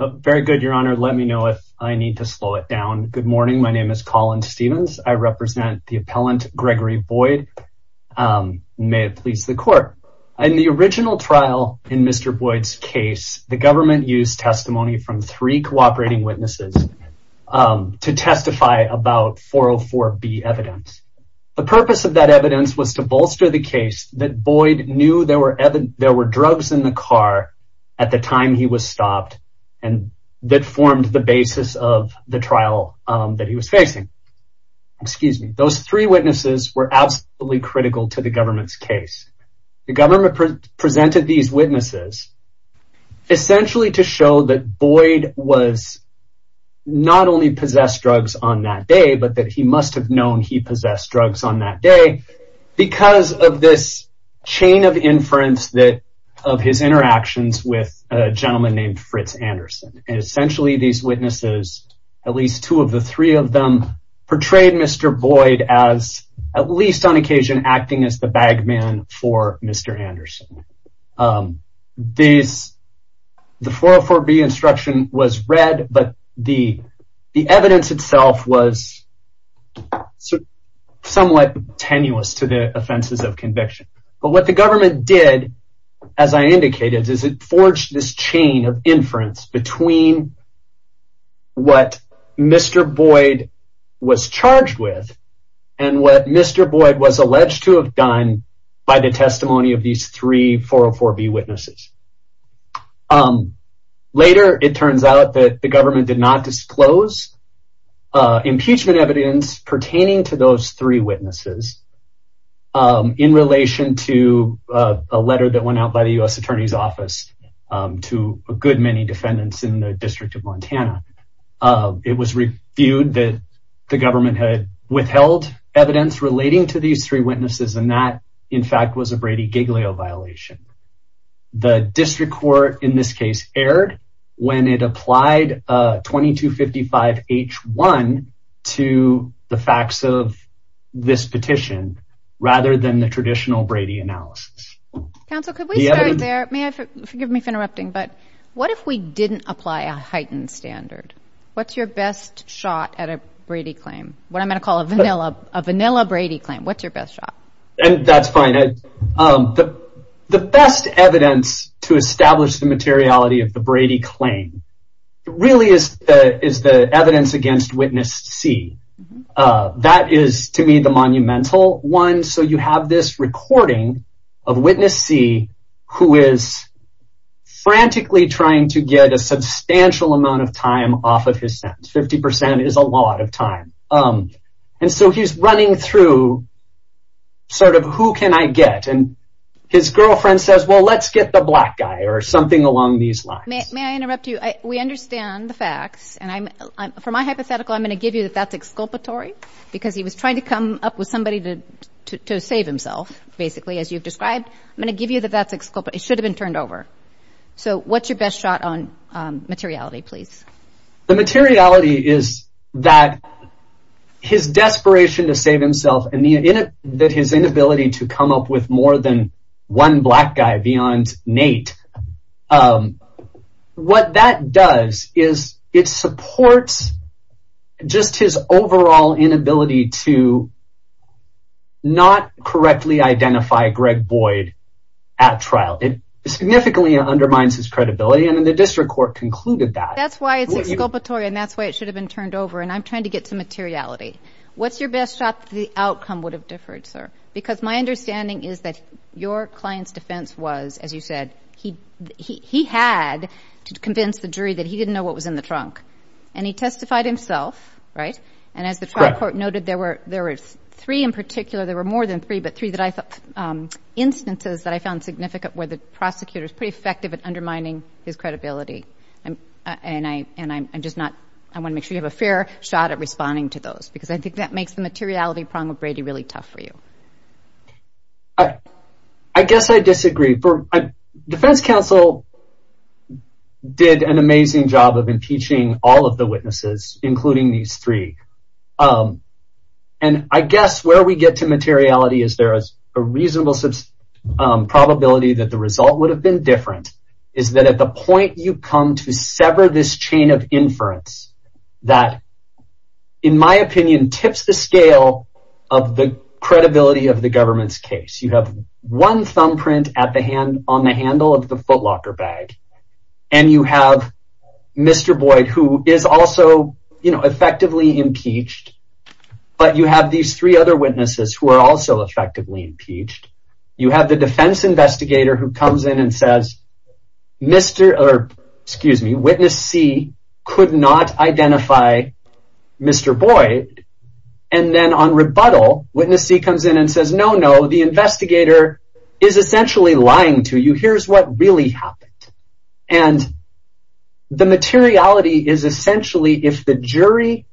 Very good, your honor. Let me know if I need to slow it down. Good morning. My name is Colin Stevens. I represent the appellant Gregory Boyd. May it please the court. In the original trial in Mr. Boyd's case, the government used testimony from three cooperating witnesses to testify about 404B evidence. The purpose of that evidence was to bolster the case that Boyd there were drugs in the car at the time he was stopped and that formed the basis of the trial that he was facing. Those three witnesses were absolutely critical to the government's case. The government presented these witnesses essentially to show that Boyd was not only possessed drugs on that day but that he must have known he possessed drugs on that day because of this chain of inference that of his interactions with a gentleman named Fritz Anderson. Essentially these witnesses, at least two of the three of them, portrayed Mr. Boyd as at least on occasion acting as the bag man for Mr. Anderson. The 404B instruction was read but the evidence itself was somewhat tenuous to the offenses of conviction. But what the government did, as I indicated, is it forged this chain of inference between what Mr. Boyd was charged with and what Mr. Boyd was alleged to have done by the testimony of these three 404B witnesses. Later it turns out that the government did not disclose impeachment evidence pertaining to those three witnesses in relation to a letter that went out by the U.S. Attorney's Office to a good many defendants in the District of Montana. It was reviewed that the government had withheld evidence relating to these three witnesses and that in fact was a Brady Giglio violation. The district court in this case erred when it applied 2255H1 to the facts of this petition rather than the traditional Brady analysis. Counsel, could we start there? May I, forgive me for interrupting, but what if we didn't apply a heightened standard? What's your best shot at a Brady claim? What I'm going to call a vanilla Brady claim. What's your best shot? And that's fine. The best evidence to establish the materiality of the Brady claim really is the evidence against Witness C. That is to me the monumental one. So you have this recording of Witness C who is frantically trying to get a substantial amount of time off of his sentence. Fifty percent is a lot of time. And so he's running through sort of who can I get and his girlfriend says well let's get the black guy or something along these lines. May I interrupt you? We understand the facts and for my hypothetical I'm going to give you that that's exculpatory because he was trying to come up with somebody to save himself basically as you've described. I'm going to give you that that's exculpatory. It should have been the materiality is that his desperation to save himself and that his inability to come up with more than one black guy beyond Nate. What that does is it supports just his overall inability to not correctly identify Greg Boyd at trial. It significantly undermines his credibility and the district court concluded that. That's why it's exculpatory and that's why it should have been turned over and I'm trying to get to materiality. What's your best shot that the outcome would have differed sir? Because my understanding is that your client's defense was as you said he he had to convince the jury that he didn't know what was in the trunk and he testified himself right? And as the trial court noted there were there were three in particular there were more than three but three that I thought instances that I found significant where the prosecutor is pretty effective at undermining his credibility and and I and I'm just not I want to make sure you have a fair shot at responding to those because I think that makes the materiality problem with Brady really tough for you. I guess I disagree for defense counsel did an amazing job of impeaching all of the witnesses including these three um and I guess where we get to materiality is there is a reasonable probability that the result would have been different is that at the point you come to sever this chain of inference that in my opinion tips the scale of the credibility of the government's case. You have one thumbprint at the hand on the handle of the footlocker bag and you have Mr. Boyd who is also you know effectively impeached but you have these three other witnesses who are also effectively impeached. You have the defense investigator who comes in and says Mr. or excuse me witness C could not identify Mr. Boyd and then on rebuttal witness C comes in and says no no the investigator is essentially lying to you here's what really happened and the materiality is essentially if the jury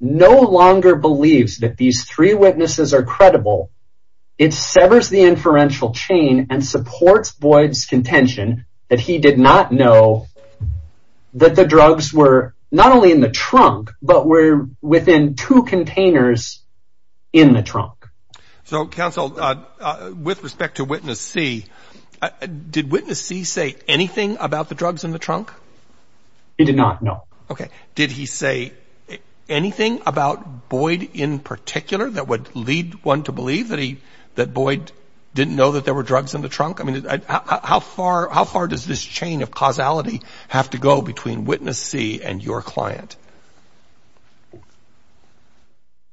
no longer believes that these three witnesses are credible it severs the inferential chain and supports Boyd's contention that he did not know that the drugs were not only in the trunk but were within two containers in the trunk. So counsel uh with respect to witness C did witness C say anything about the drugs in the trunk? He did not no. Okay did he say anything about Boyd in particular that would lead one to believe that he that Boyd didn't know that there were drugs in the trunk? I mean how far how far does this chain of causality have to go between witness C and your client?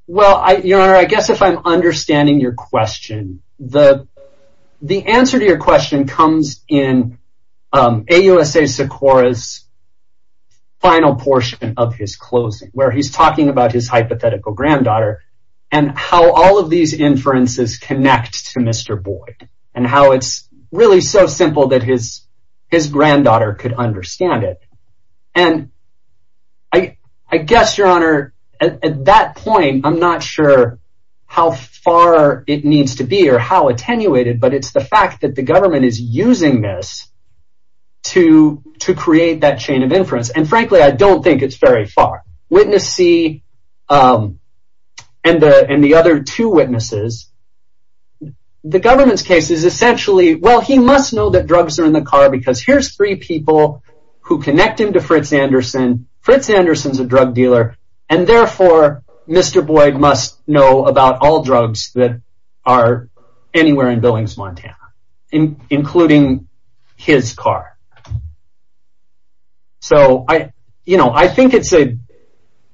Well I your honor I guess if I'm understanding your question the the answer to your question comes in um AUSA Sikora's final portion of his closing where he's talking about his hypothetical granddaughter and how all of these inferences connect to Mr. Boyd and how it's really so simple that his his granddaughter could understand it and I I guess your honor at that point I'm not sure how far it needs to be or how attenuated but it's the fact that the government is using this to to create that chain of inference and frankly I don't think it's very far. Witness C um and the and the other two witnesses the government's case is essentially well he must know that drugs are in the car because here's three people who connect him to Fritz Anderson. Fritz Anderson's a drug dealer and therefore Mr. Boyd must know about all drugs that are anywhere in Billings Montana including his car so I you know I think it's a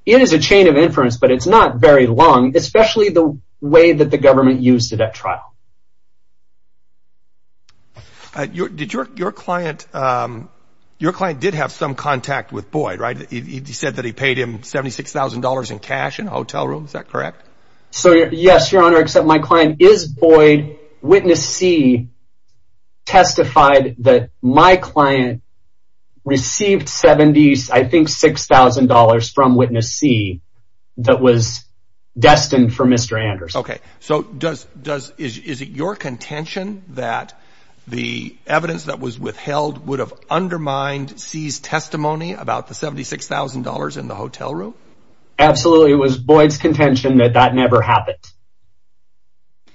it is a chain of inference but it's not very long especially the way that the your client did have some contact with Boyd right he said that he paid him 76 thousand dollars in cash in a hotel room is that correct? So yes your honor except my client is Boyd Witness C testified that my client received 70 I think six thousand dollars from Witness C that was destined for Mr. Anderson. Okay so does does is is it your contention that the evidence that was withheld would have undermined C's testimony about the 76 thousand dollars in the hotel room? Absolutely it was Boyd's contention that that never happened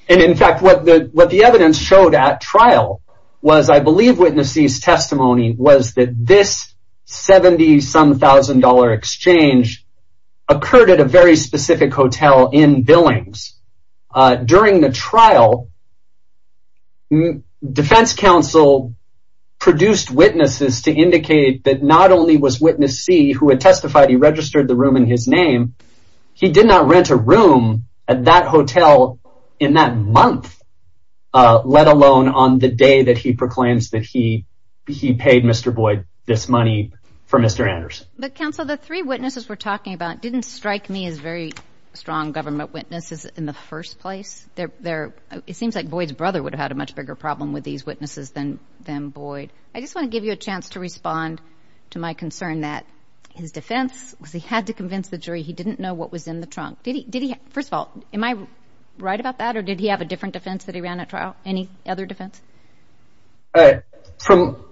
and in fact what the what the evidence showed at trial was I believe Witness C's testimony was that this 70 some thousand dollar exchange occurred at a very specific hotel in Billings. During the trial defense counsel produced witnesses to indicate that not only was Witness C who had testified he registered the room in his name he did not rent a room at that hotel in that month let alone on the day that he proclaims that he he paid Mr. Boyd this money for Mr. Anderson. But counsel the three witnesses we're talking about didn't strike me as very strong government witnesses in the first place they're they're it seems like Boyd's brother would have had a much bigger problem with these witnesses than than Boyd. I just want to give you a chance to respond to my concern that his defense because he had to convince the jury he didn't know what was in the trunk did he did he first of all am I right about that or did he have a different defense that he ran at trial any other defense? All right from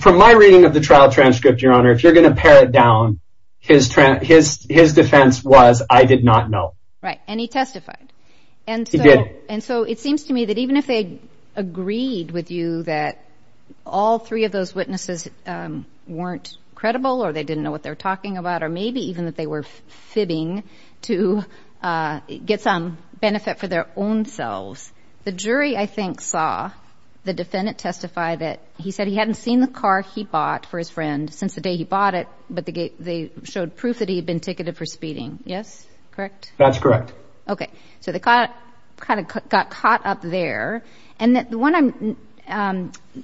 from my reading of the trial transcript your honor if you're going to his his his defense was I did not know. Right and he testified and he did and so it seems to me that even if they agreed with you that all three of those witnesses weren't credible or they didn't know what they were talking about or maybe even that they were fibbing to get some benefit for their own selves the jury I think saw the defendant testify that he said he hadn't seen the car he for his friend since the day he bought it but they showed proof that he had been ticketed for speeding yes correct? That's correct. Okay so they caught kind of got caught up there and that the one I'm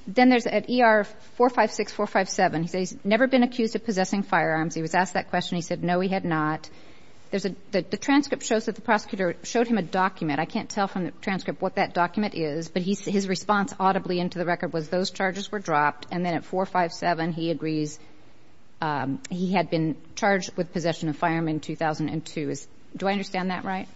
then there's at er 456 457 he says he's never been accused of possessing firearms he was asked that question he said no he had not there's a the transcript shows that the prosecutor showed him a document I can't tell from the transcript what that document is but he his response audibly into the record was those charges were dropped and then at 457 he agrees um he had been charged with possession of firearm in 2002 is do I understand that right?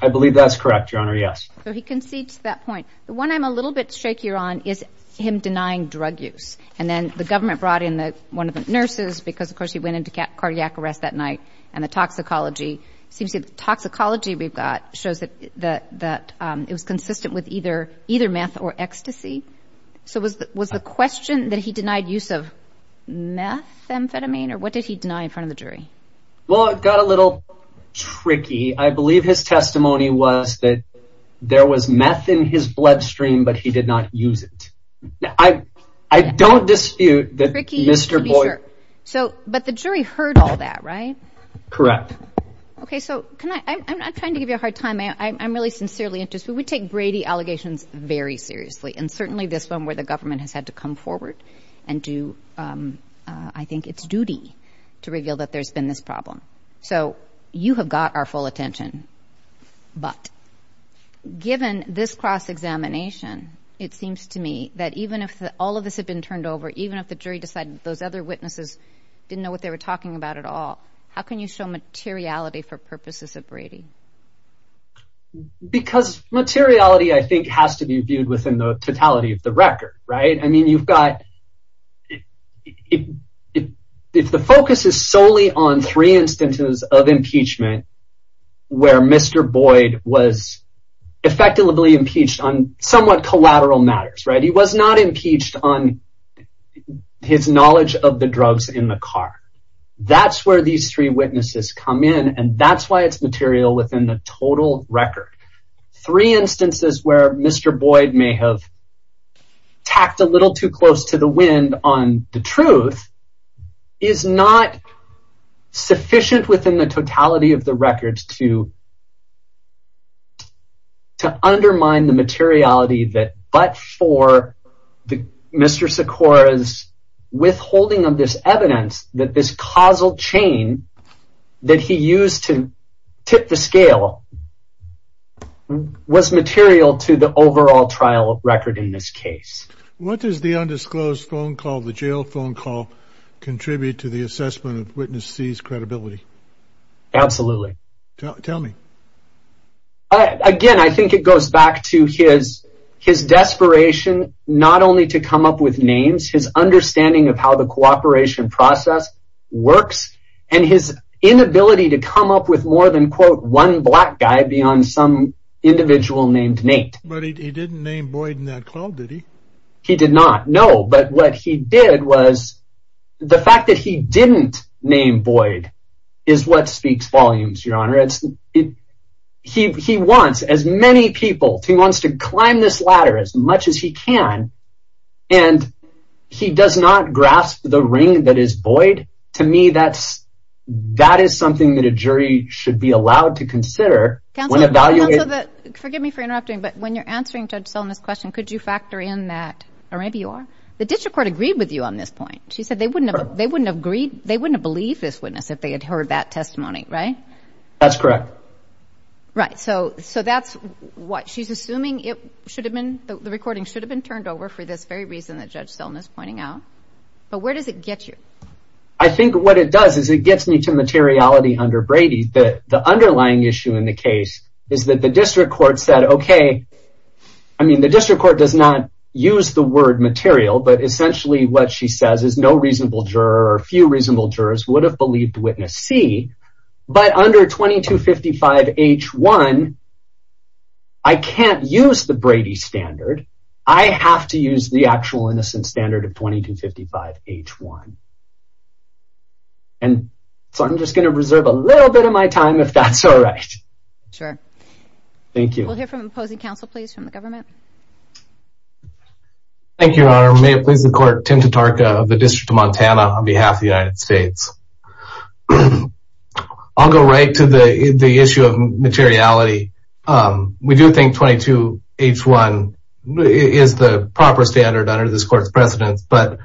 I believe that's correct your honor yes. So he concedes that point the one I'm a little bit shakier on is him denying drug use and then the government brought in the one of the nurses because of course he went into cardiac arrest that night and the toxicology seems to toxicology we've got shows that that that um it was consistent with either either meth or ecstasy so was was the question that he denied use of meth amphetamine or what did he deny in front of the jury? Well it got a little tricky I believe his testimony was that there was meth in his bloodstream but he did not use it I I don't dispute that Mr. Boyer so but the jury heard all that right? Correct. Okay so can I I'm not trying to give you a hard time I'm really sincerely interested we take Brady allegations very seriously and certainly this one where the government has had to come forward and do um I think it's duty to reveal that there's been this problem so you have got our full attention but given this cross-examination it seems to me that even if all of this had been turned over even if the jury decided those other witnesses didn't know what they were talking about at all how can you show materiality for purposes of Brady? Because materiality I think has to be viewed within the totality of the record right I mean you've got if if if the focus is solely on three instances of impeachment where Mr. Boyd was effectively impeached on somewhat collateral matters right he was not impeached on his knowledge of the drugs in the car that's where these three witnesses come in and that's why it's material within the total record. Three instances where Mr. Boyd may have tacked a little too close to the wind on the truth is not sufficient within the totality of the records to to undermine the materiality that but for the Mr. Sikora's withholding of this evidence that this causal chain that he used to tip the scale was material to the overall trial record in this case. What does the undisclosed phone call the jail phone call contribute to the assessment of witness C's credibility? Absolutely. Tell me. Again I think it goes back to his his desperation not only to come up with names his understanding of how the cooperation process works and his inability to come up with more than quote one black guy beyond some individual named Nate. But he didn't name Boyd in that call did he? He did not no but what he did was the fact that he didn't name Boyd is what speaks volumes your honor it's it he he wants as many people he wants to climb this ladder as much as he can and he does not grasp the ring that is Boyd to me that's that is something that a jury should be allowed to consider when evaluating. Forgive me for interrupting but when you're answering Judge Sullivan's question could you factor in that or maybe you are the district court agreed with you on this point she said they wouldn't have they wouldn't have agreed they wouldn't have believed this witness if they had heard that testimony right? That's correct. Right so so that's what she's assuming it should have been the recording should have been turned over for this very reason that Judge Sullivan is pointing out but where does it get you? I think what it does is it gets me to materiality under Brady that the underlying issue in the case is that the district court said okay I mean the district court does not use the word material but essentially what she says is no reasonable juror or few reasonable jurors would have believed witness c but under 2255 h1 I can't use the Brady standard I have to use the actual innocent standard of 2255 h1 and so I'm just going to reserve a little bit of my time if that's all right. Sure. Thank you. We'll hear from opposing counsel please from the government. Thank you your honor may it please the court Tenta Tarka of the district of Montana on behalf of the I'll go right to the the issue of materiality we do think 22 h1 is the proper standard under this court's precedence but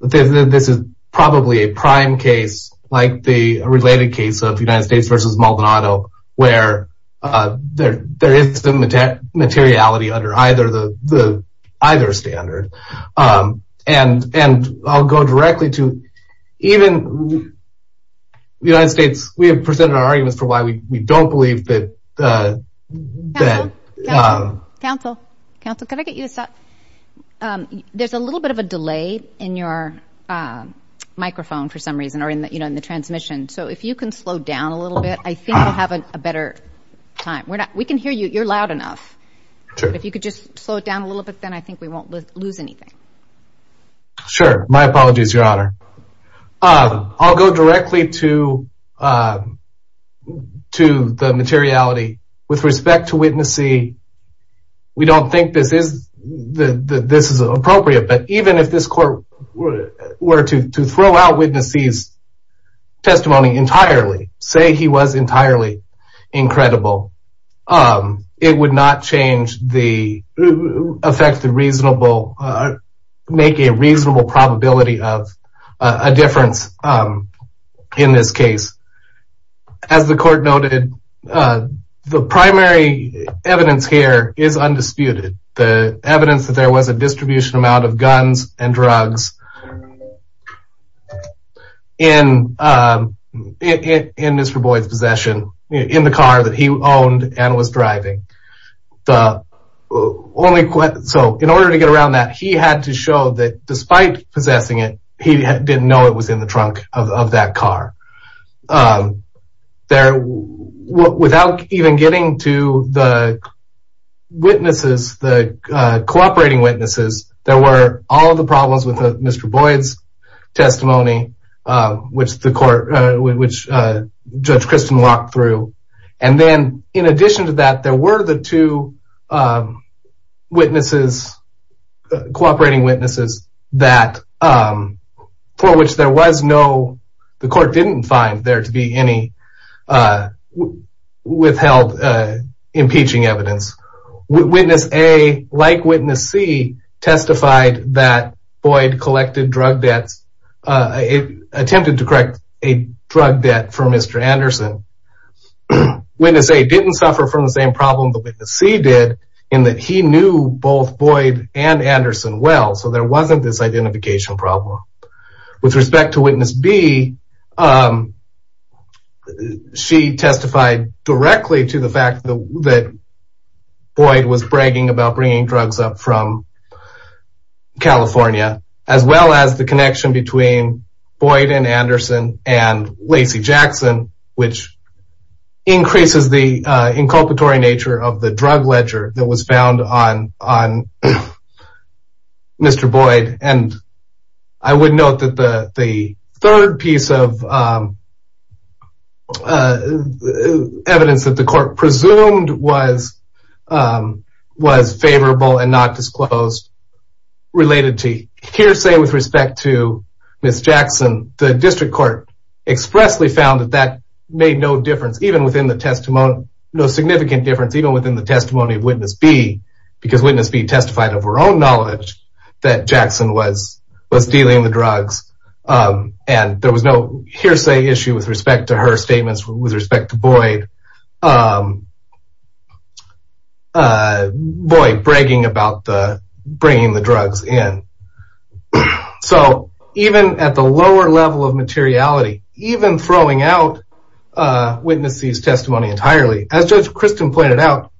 this is probably a prime case like the related case of United States versus Maldonado where there is some materiality under either the either standard and I'll go directly to even the United States we have presented our arguments for why we don't believe that counsel counsel can I get you to stop there's a little bit of a delay in your microphone for some reason or in that you know in the transmission so if you can slow down a little bit I think we'll have a better time we're not we can hear you you're loud enough if you could just slow it down a little bit then I think we won't lose anything sure my apologies your honor I'll go directly to to the materiality with respect to witnessing we don't think this is the this is appropriate but even if this court were to throw out witnesses testimony entirely say he was entirely incredible it would not change the affect the reasonable make a reasonable probability of a difference in this case as the court noted the primary evidence here is undisputed the evidence that there was a distribution amount of guns and drugs in in Mr. Boyd's possession in the car that he owned and was driving the only so in order to get around that he had to show that despite possessing it he didn't know it was in the trunk of that car there without even getting to the witnesses the cooperating witnesses there were all the problems with Mr. Boyd's testimony which the court which Judge Kristen walked through and then in addition to that there were the two witnesses cooperating witnesses that for which there was no the court didn't find there to be any withheld impeaching evidence witness a like witness c testified that Boyd collected drug debt from Mr. Anderson witness a didn't suffer from the same problem the witness c did in that he knew both Boyd and Anderson well so there wasn't this identification problem with respect to witness b she testified directly to the fact that Boyd was bragging about bringing drugs up from which increases the inculpatory nature of the drug ledger that was found on on Mr. Boyd and I would note that the the third piece of evidence that the court presumed was was favorable and not disclosed related to hearsay with respect Ms. Jackson the district court expressly found that that made no difference even within the testimony no significant difference even within the testimony of witness b because witness b testified of her own knowledge that Jackson was was dealing the drugs and there was no hearsay issue with respect to her statements with respect to Boyd um uh boy bragging about the bringing the drugs in so even at the lower level of materiality even throwing out uh witness c's testimony entirely as judge christian pointed out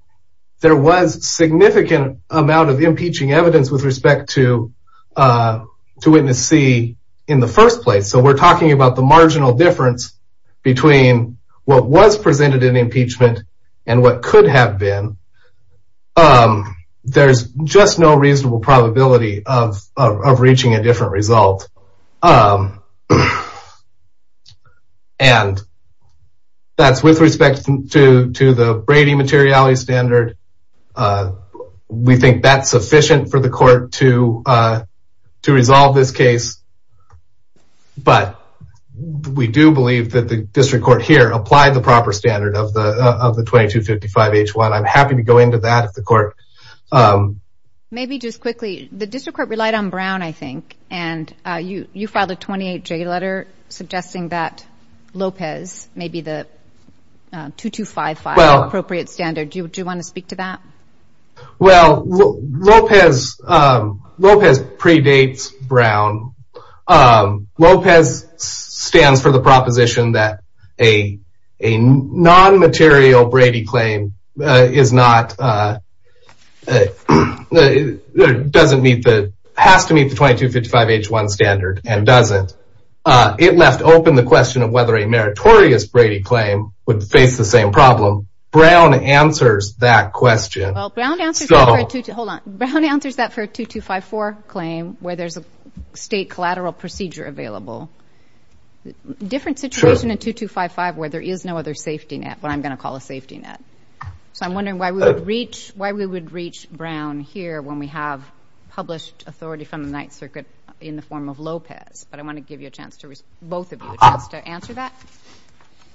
there was significant amount of impeaching evidence with respect to uh to witness c in the first place so we're talking about the marginal difference between what was presented in impeachment and what could have been um there's just no reasonable probability of reaching a different result um and that's with respect to to the Brady materiality standard we think that's sufficient for the court to uh to resolve this case but we do believe that the of the 2255 h1 i'm happy to go into that if the court um maybe just quickly the district court relied on brown i think and uh you you filed a 28 j letter suggesting that lopez maybe the 2255 appropriate standard do you want to speak to that well lopez um lopez predates brown um lopez stands for the proposition that a a non-material brady claim uh is not uh doesn't meet the has to meet the 2255 h1 standard and doesn't uh it left open the question of whether a meritorious brady claim would face the same problem brown answers that question well brown answers that hold on brown answers that for 2254 claim where there's a different situation in 2255 where there is no other safety net but i'm going to call a safety net so i'm wondering why we would reach why we would reach brown here when we have published authority from the ninth circuit in the form of lopez but i want to give you a chance to both of you just to answer that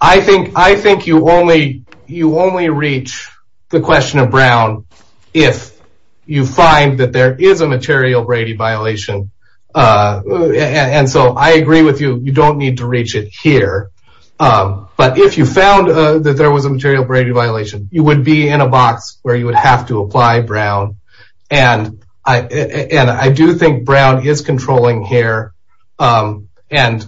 i think i think you only you only reach the question of brown if you find that there is a material brady violation uh and so i agree with you you don't need to reach it here um but if you found that there was a material brady violation you would be in a box where you would have to apply brown and i and i do think brown is controlling here um and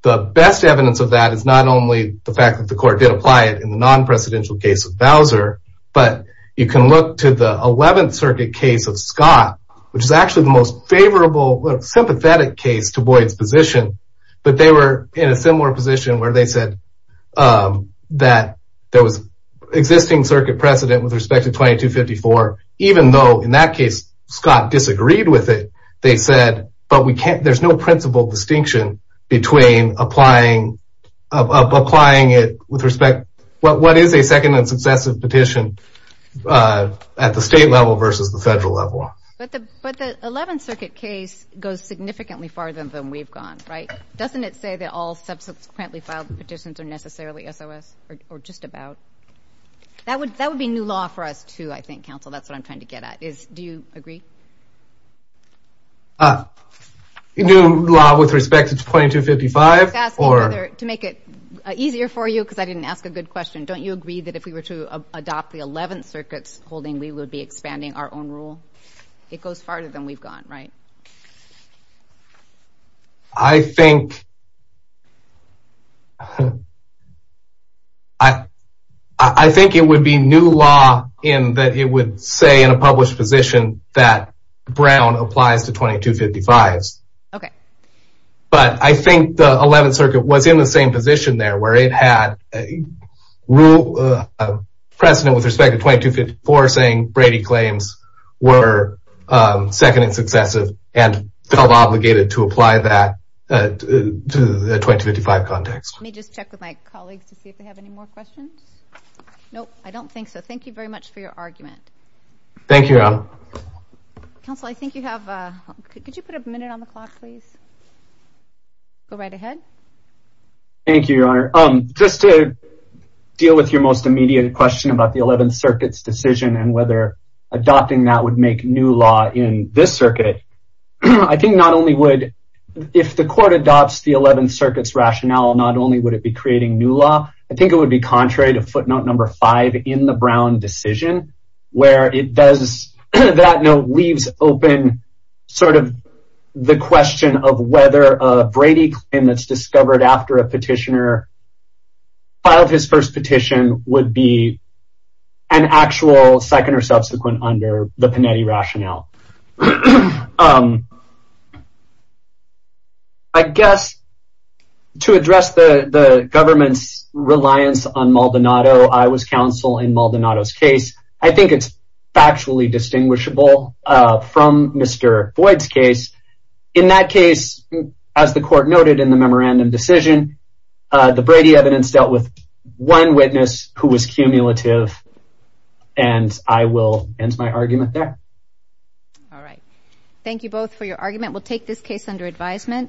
the best evidence of that is not only the fact that the court did apply it in non-precedential case of bowser but you can look to the 11th circuit case of scott which is actually the most favorable sympathetic case to boyd's position but they were in a similar position where they said um that there was existing circuit precedent with respect to 2254 even though in that case scott disagreed with it they said but we can't there's no principal distinction between applying applying it with respect what what is a second and successive petition uh at the state level versus the federal level but the but the 11th circuit case goes significantly farther than we've gone right doesn't it say that all subsequently filed petitions are necessarily sos or just about that would that would be new law for us too i think counsel that's what i'm do you agree uh new law with respect to 2255 or to make it easier for you because i didn't ask a good question don't you agree that if we were to adopt the 11th circuits holding we would be expanding our own rule it goes farther than we've gone right i think i i think it would be new law in that it would say in a published position that brown applies to 2255s okay but i think the 11th circuit was in the same position there where it had rule precedent with respect to 2254 saying brady claims were second and successive and felt obligated to apply that to the 2255 context let me just check with my colleagues to see if we have any more questions nope i don't think so thank you very much for your argument thank you counsel i think you have uh could you put a minute on the clock please go right ahead thank you your honor um just to deal with your most immediate question about the 11th i think not only would if the court adopts the 11th circuits rationale not only would it be creating new law i think it would be contrary to footnote number five in the brown decision where it does that note leaves open sort of the question of whether a brady claim that's discovered after a petitioner filed his first petition would be an actual second or subsequent under the panetti rationale um i guess to address the the government's reliance on maldonado i was counsel in maldonado's case i think it's factually distinguishable uh from mr boyd's case in that case as the court noted in the memorandum decision uh the brady evidence dealt with one witness who was cumulative and i will end my argument there all right thank you both for your argument we'll take this case under advisement